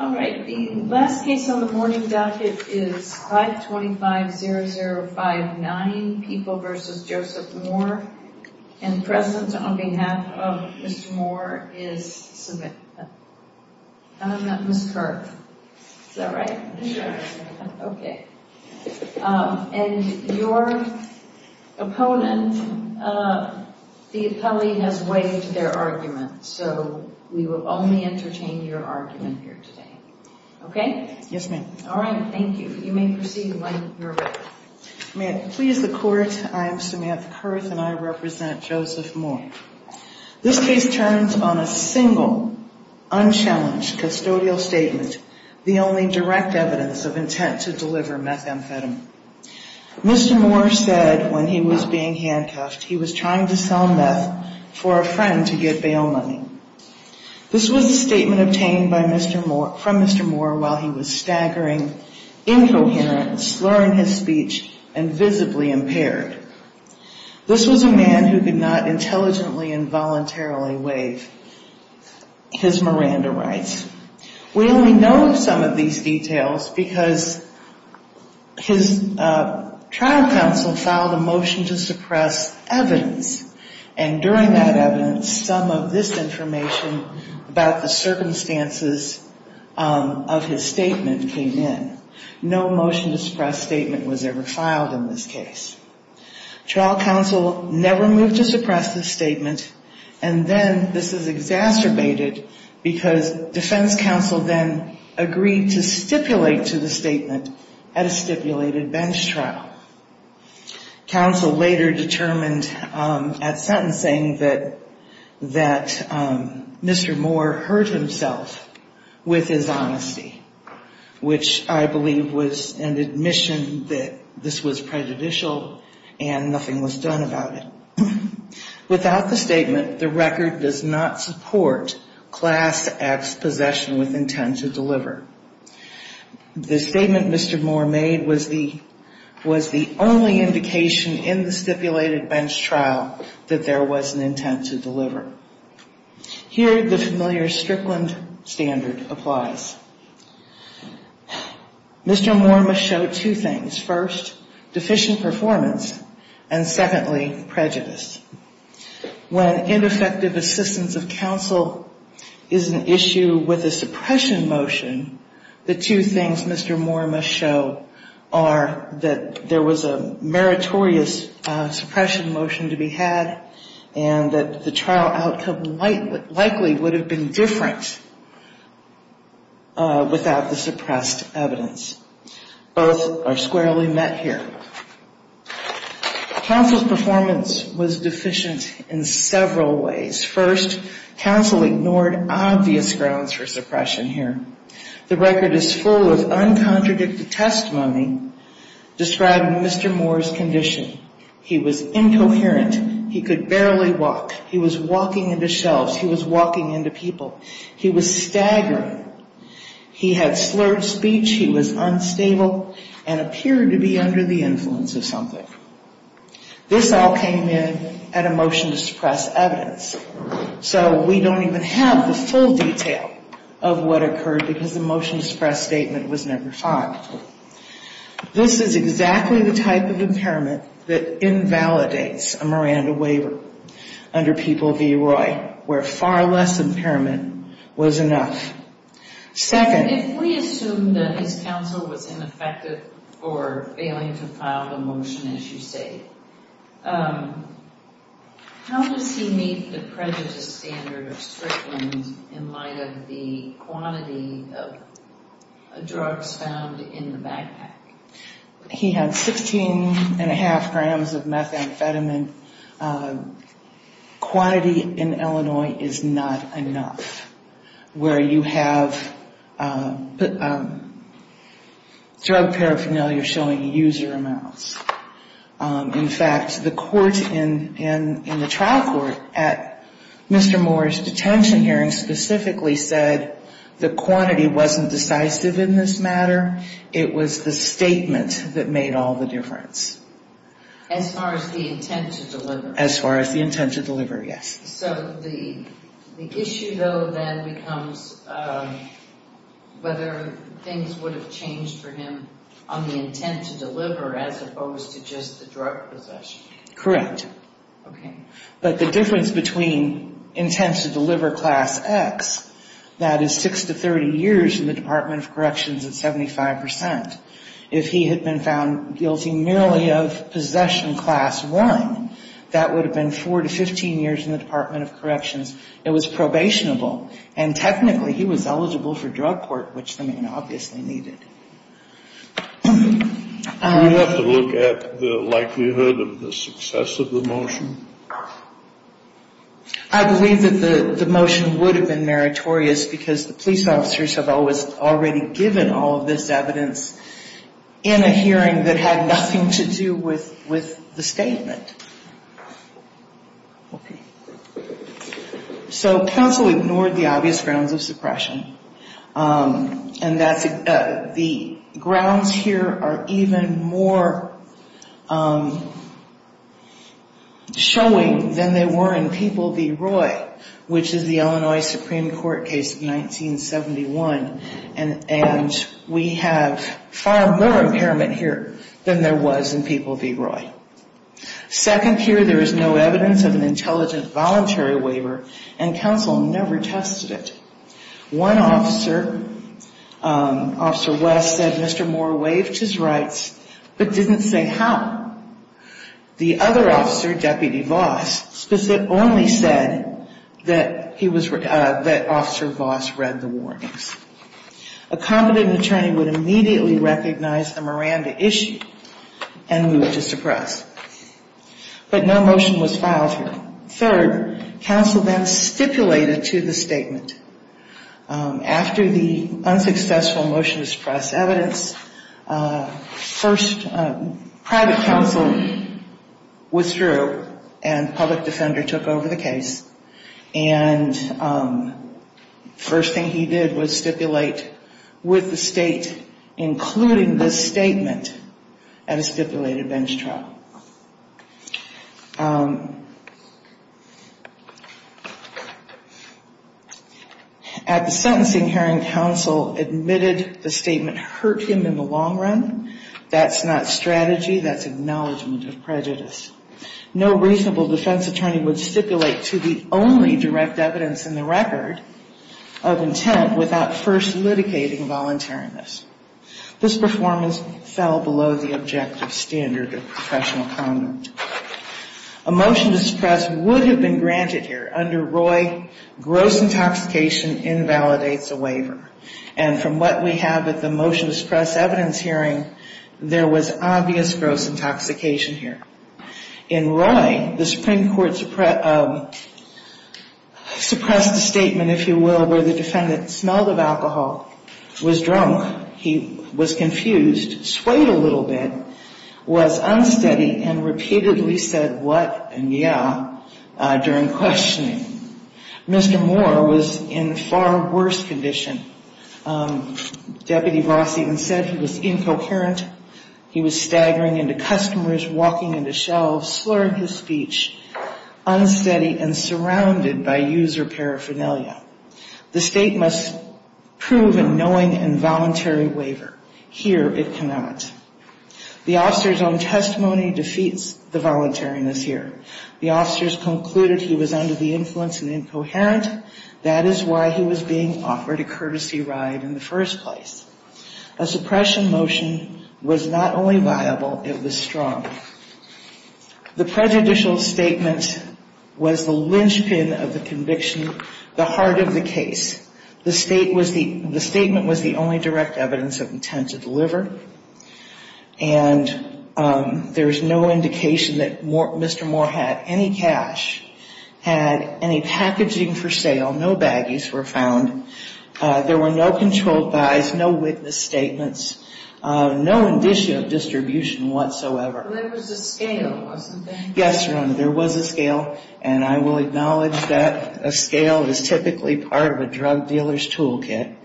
Alright, the last case on the morning docket is 525-0059, People v. Joseph Moore. And present on behalf of Mr. Moore is Samantha. And I'm not Ms. Kirk. Is that right? Okay. And your opponent, the appellee, has waived their argument. So we will only entertain your argument here today. Okay? Yes, ma'am. Alright, thank you. You may proceed when you're ready. May it please the Court, I am Samantha Kirk and I represent Joseph Moore. This case turns on a single, unchallenged custodial statement, the only direct evidence of intent to deliver methamphetamine. Mr. Moore said when he was being handcuffed he was trying to sell meth for a friend to get bail money. This was a statement obtained from Mr. Moore while he was staggering, incoherent, slurring his speech, and visibly impaired. This was a man who could not intelligently and voluntarily waive his Miranda rights. We only know some of these details because his trial counsel filed a motion to suppress evidence. And during that evidence, some of this information about the circumstances of his statement came in. No motion to suppress statement was ever filed in this case. Trial counsel never moved to suppress the statement. And then this is exacerbated because defense counsel then agreed to stipulate to the statement at a stipulated bench trial. Counsel later determined at sentencing that Mr. Moore hurt himself with his honesty, which I believe was an admission that this was prejudicial and nothing was done about it. Without the statement, the record does not support Class X possession with intent to deliver. The statement Mr. Moore made was the only indication in the stipulated bench trial that there was an intent to deliver. Here the familiar Strickland standard applies. Mr. Moore must show two things. First, deficient performance. And secondly, prejudice. When ineffective assistance of counsel is an issue with a suppression motion, the two things Mr. Moore must show are that there was a meritorious suppression motion to be had and that the trial outcome likely would have been different without the suppressed evidence. Both are squarely met here. Counsel's performance was deficient in several ways. First, counsel ignored obvious grounds for suppression here. The record is full of uncontradicted testimony describing Mr. Moore's condition. He was incoherent. He could barely walk. He was walking into shelves. He was walking into people. He was staggering. He had slurred speech. He was unstable and appeared to be under the influence of something. This all came in at a motion to suppress evidence. So we don't even have the full detail of what occurred because the motion to suppress statement was never filed. This is exactly the type of impairment that invalidates a Miranda waiver under People v. Roy, where far less impairment was enough. Second, if we assume that his counsel was ineffective for failing to file the motion, as you say, how does he meet the prejudice standard of Strickland in light of the quantity of drugs found in the backpack? He had 16.5 grams of methamphetamine. Quantity in Illinois is not enough where you have drug paraphernalia showing user amounts. In fact, the court in the trial court at Mr. Moore's detention hearing specifically said the quantity wasn't decisive in this matter. It was the statement that made all the difference. So the issue, though, then becomes whether things would have changed for him on the intent to deliver as opposed to just the drug possession. Correct. But the difference between intent to deliver class X, that is 6 to 30 years in the Department of Corrections at 75 percent, if he had been found guilty merely of possession class I, that would have been 4 to 15 years in the Department of Corrections. It was probationable, and technically he was eligible for drug court, which the man obviously needed. Do we have to look at the likelihood of the success of the motion? I believe that the motion would have been meritorious because the police officers have always already given all of this evidence. In a hearing that had nothing to do with the statement. So counsel ignored the obvious grounds of suppression. And the grounds here are even more showing than they were in People v. Roy, which is the Illinois Supreme Court case of 1971. And we have far more impairment here than there was in People v. Roy. Second here, there is no evidence of an intelligent voluntary waiver, and counsel never tested it. One officer, Officer West, said Mr. Moore waived his rights, but didn't say how. The other officer, Deputy Voss, only said that Officer Voss read the warnings. A competent attorney would immediately recognize the Miranda issue and move to suppress. But no motion was filed here. Third, counsel then stipulated to the statement, after the unsuccessful motion to suppress evidence, first private counsel withdrew, and public defender took over the case. And first thing he did was stipulate with the state, including this statement, at a stipulated bench trial. At the sentencing hearing, counsel admitted the statement hurt him in the long run. That's not strategy, that's acknowledgement of prejudice. No reasonable defense attorney would stipulate to the only direct evidence in the record of intent without first litigating voluntariness. This performance fell below the objective standard of professional conduct. A motion to suppress would have been granted here. Under Roy, gross intoxication invalidates a waiver. And from what we have at the motion to suppress evidence hearing, there was obvious gross intoxication here. In Roy, the Supreme Court suppressed the statement, if you will, where the defendant smelled of alcohol, was drunk, he was confused, swayed a little bit, was unsteady, and repeatedly said what and yeah during questioning. Mr. Moore was in far worse condition. Deputy Voss even said he was incoherent. He was staggering into customers, walking into shelves, slurring his speech, unsteady and surrounded by user paraphernalia. The state must prove a knowing and voluntary waiver. Here it cannot. The officer's own testimony defeats the voluntariness here. The officers concluded he was under the influence and incoherent. That is why he was being offered a courtesy ride in the first place. A suppression motion was not only viable, it was strong. The prejudicial statement was the linchpin of the conviction, the heart of the case. The statement was the only direct evidence of intent to deliver. And there is no indication that Mr. Moore had any cash, had any packaging for sale, no baggies were found. There were no controlled buys, no witness statements, no indicia of distribution whatsoever. But there was a scale, wasn't there? Yes, Your Honor, there was a scale, and I will acknowledge that a scale is typically part of a drug dealer's toolkit,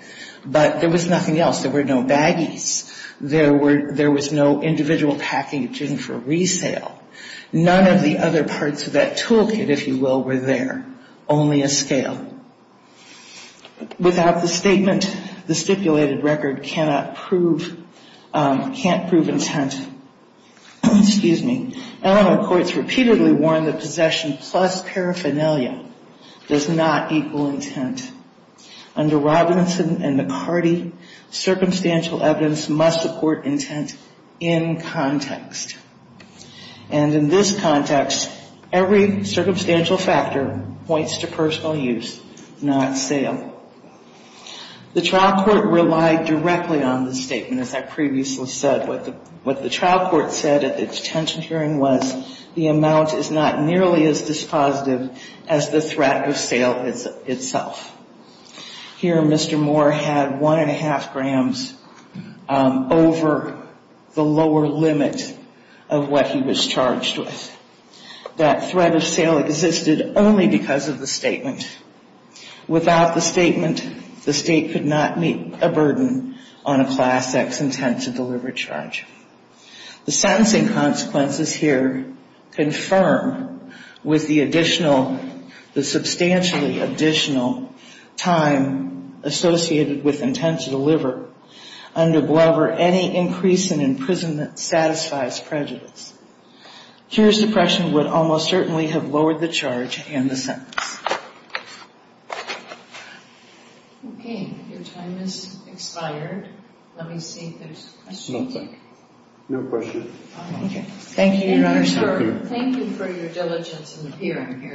but there was nothing else. There were no baggies. There was no individual packaging for resale. None of the other parts of that toolkit, if you will, were there. Only a scale. Without the statement, the stipulated record cannot prove, can't prove intent. Excuse me. Eleanor Courts repeatedly warned that possession plus paraphernalia does not equal intent. Under Robinson and McCarty, circumstantial evidence must support intent in context. And in this context, every circumstantial factor points to personal use, not sale. The trial court relied directly on the statement, as I previously said. What the trial court said at the detention hearing was the amount is not nearly as dispositive as the threat of sale itself. Here Mr. Moore had one and a half grams over the lower limit of the threat of sale. That threat of sale existed only because of the statement. Without the statement, the state could not meet a burden on a Class X intent to deliver charge. The sentencing consequences here confirm with the additional, the substantially additional time associated with intent to deliver. Under Glover, any increase in imprisonment satisfies prejudice. Here suppression would almost certainly have lowered the charge and the sentence. Okay, your time has expired. Let me see if there's a question. No question. Thank you, Your Honor. Thank you for your diligence in the hearing.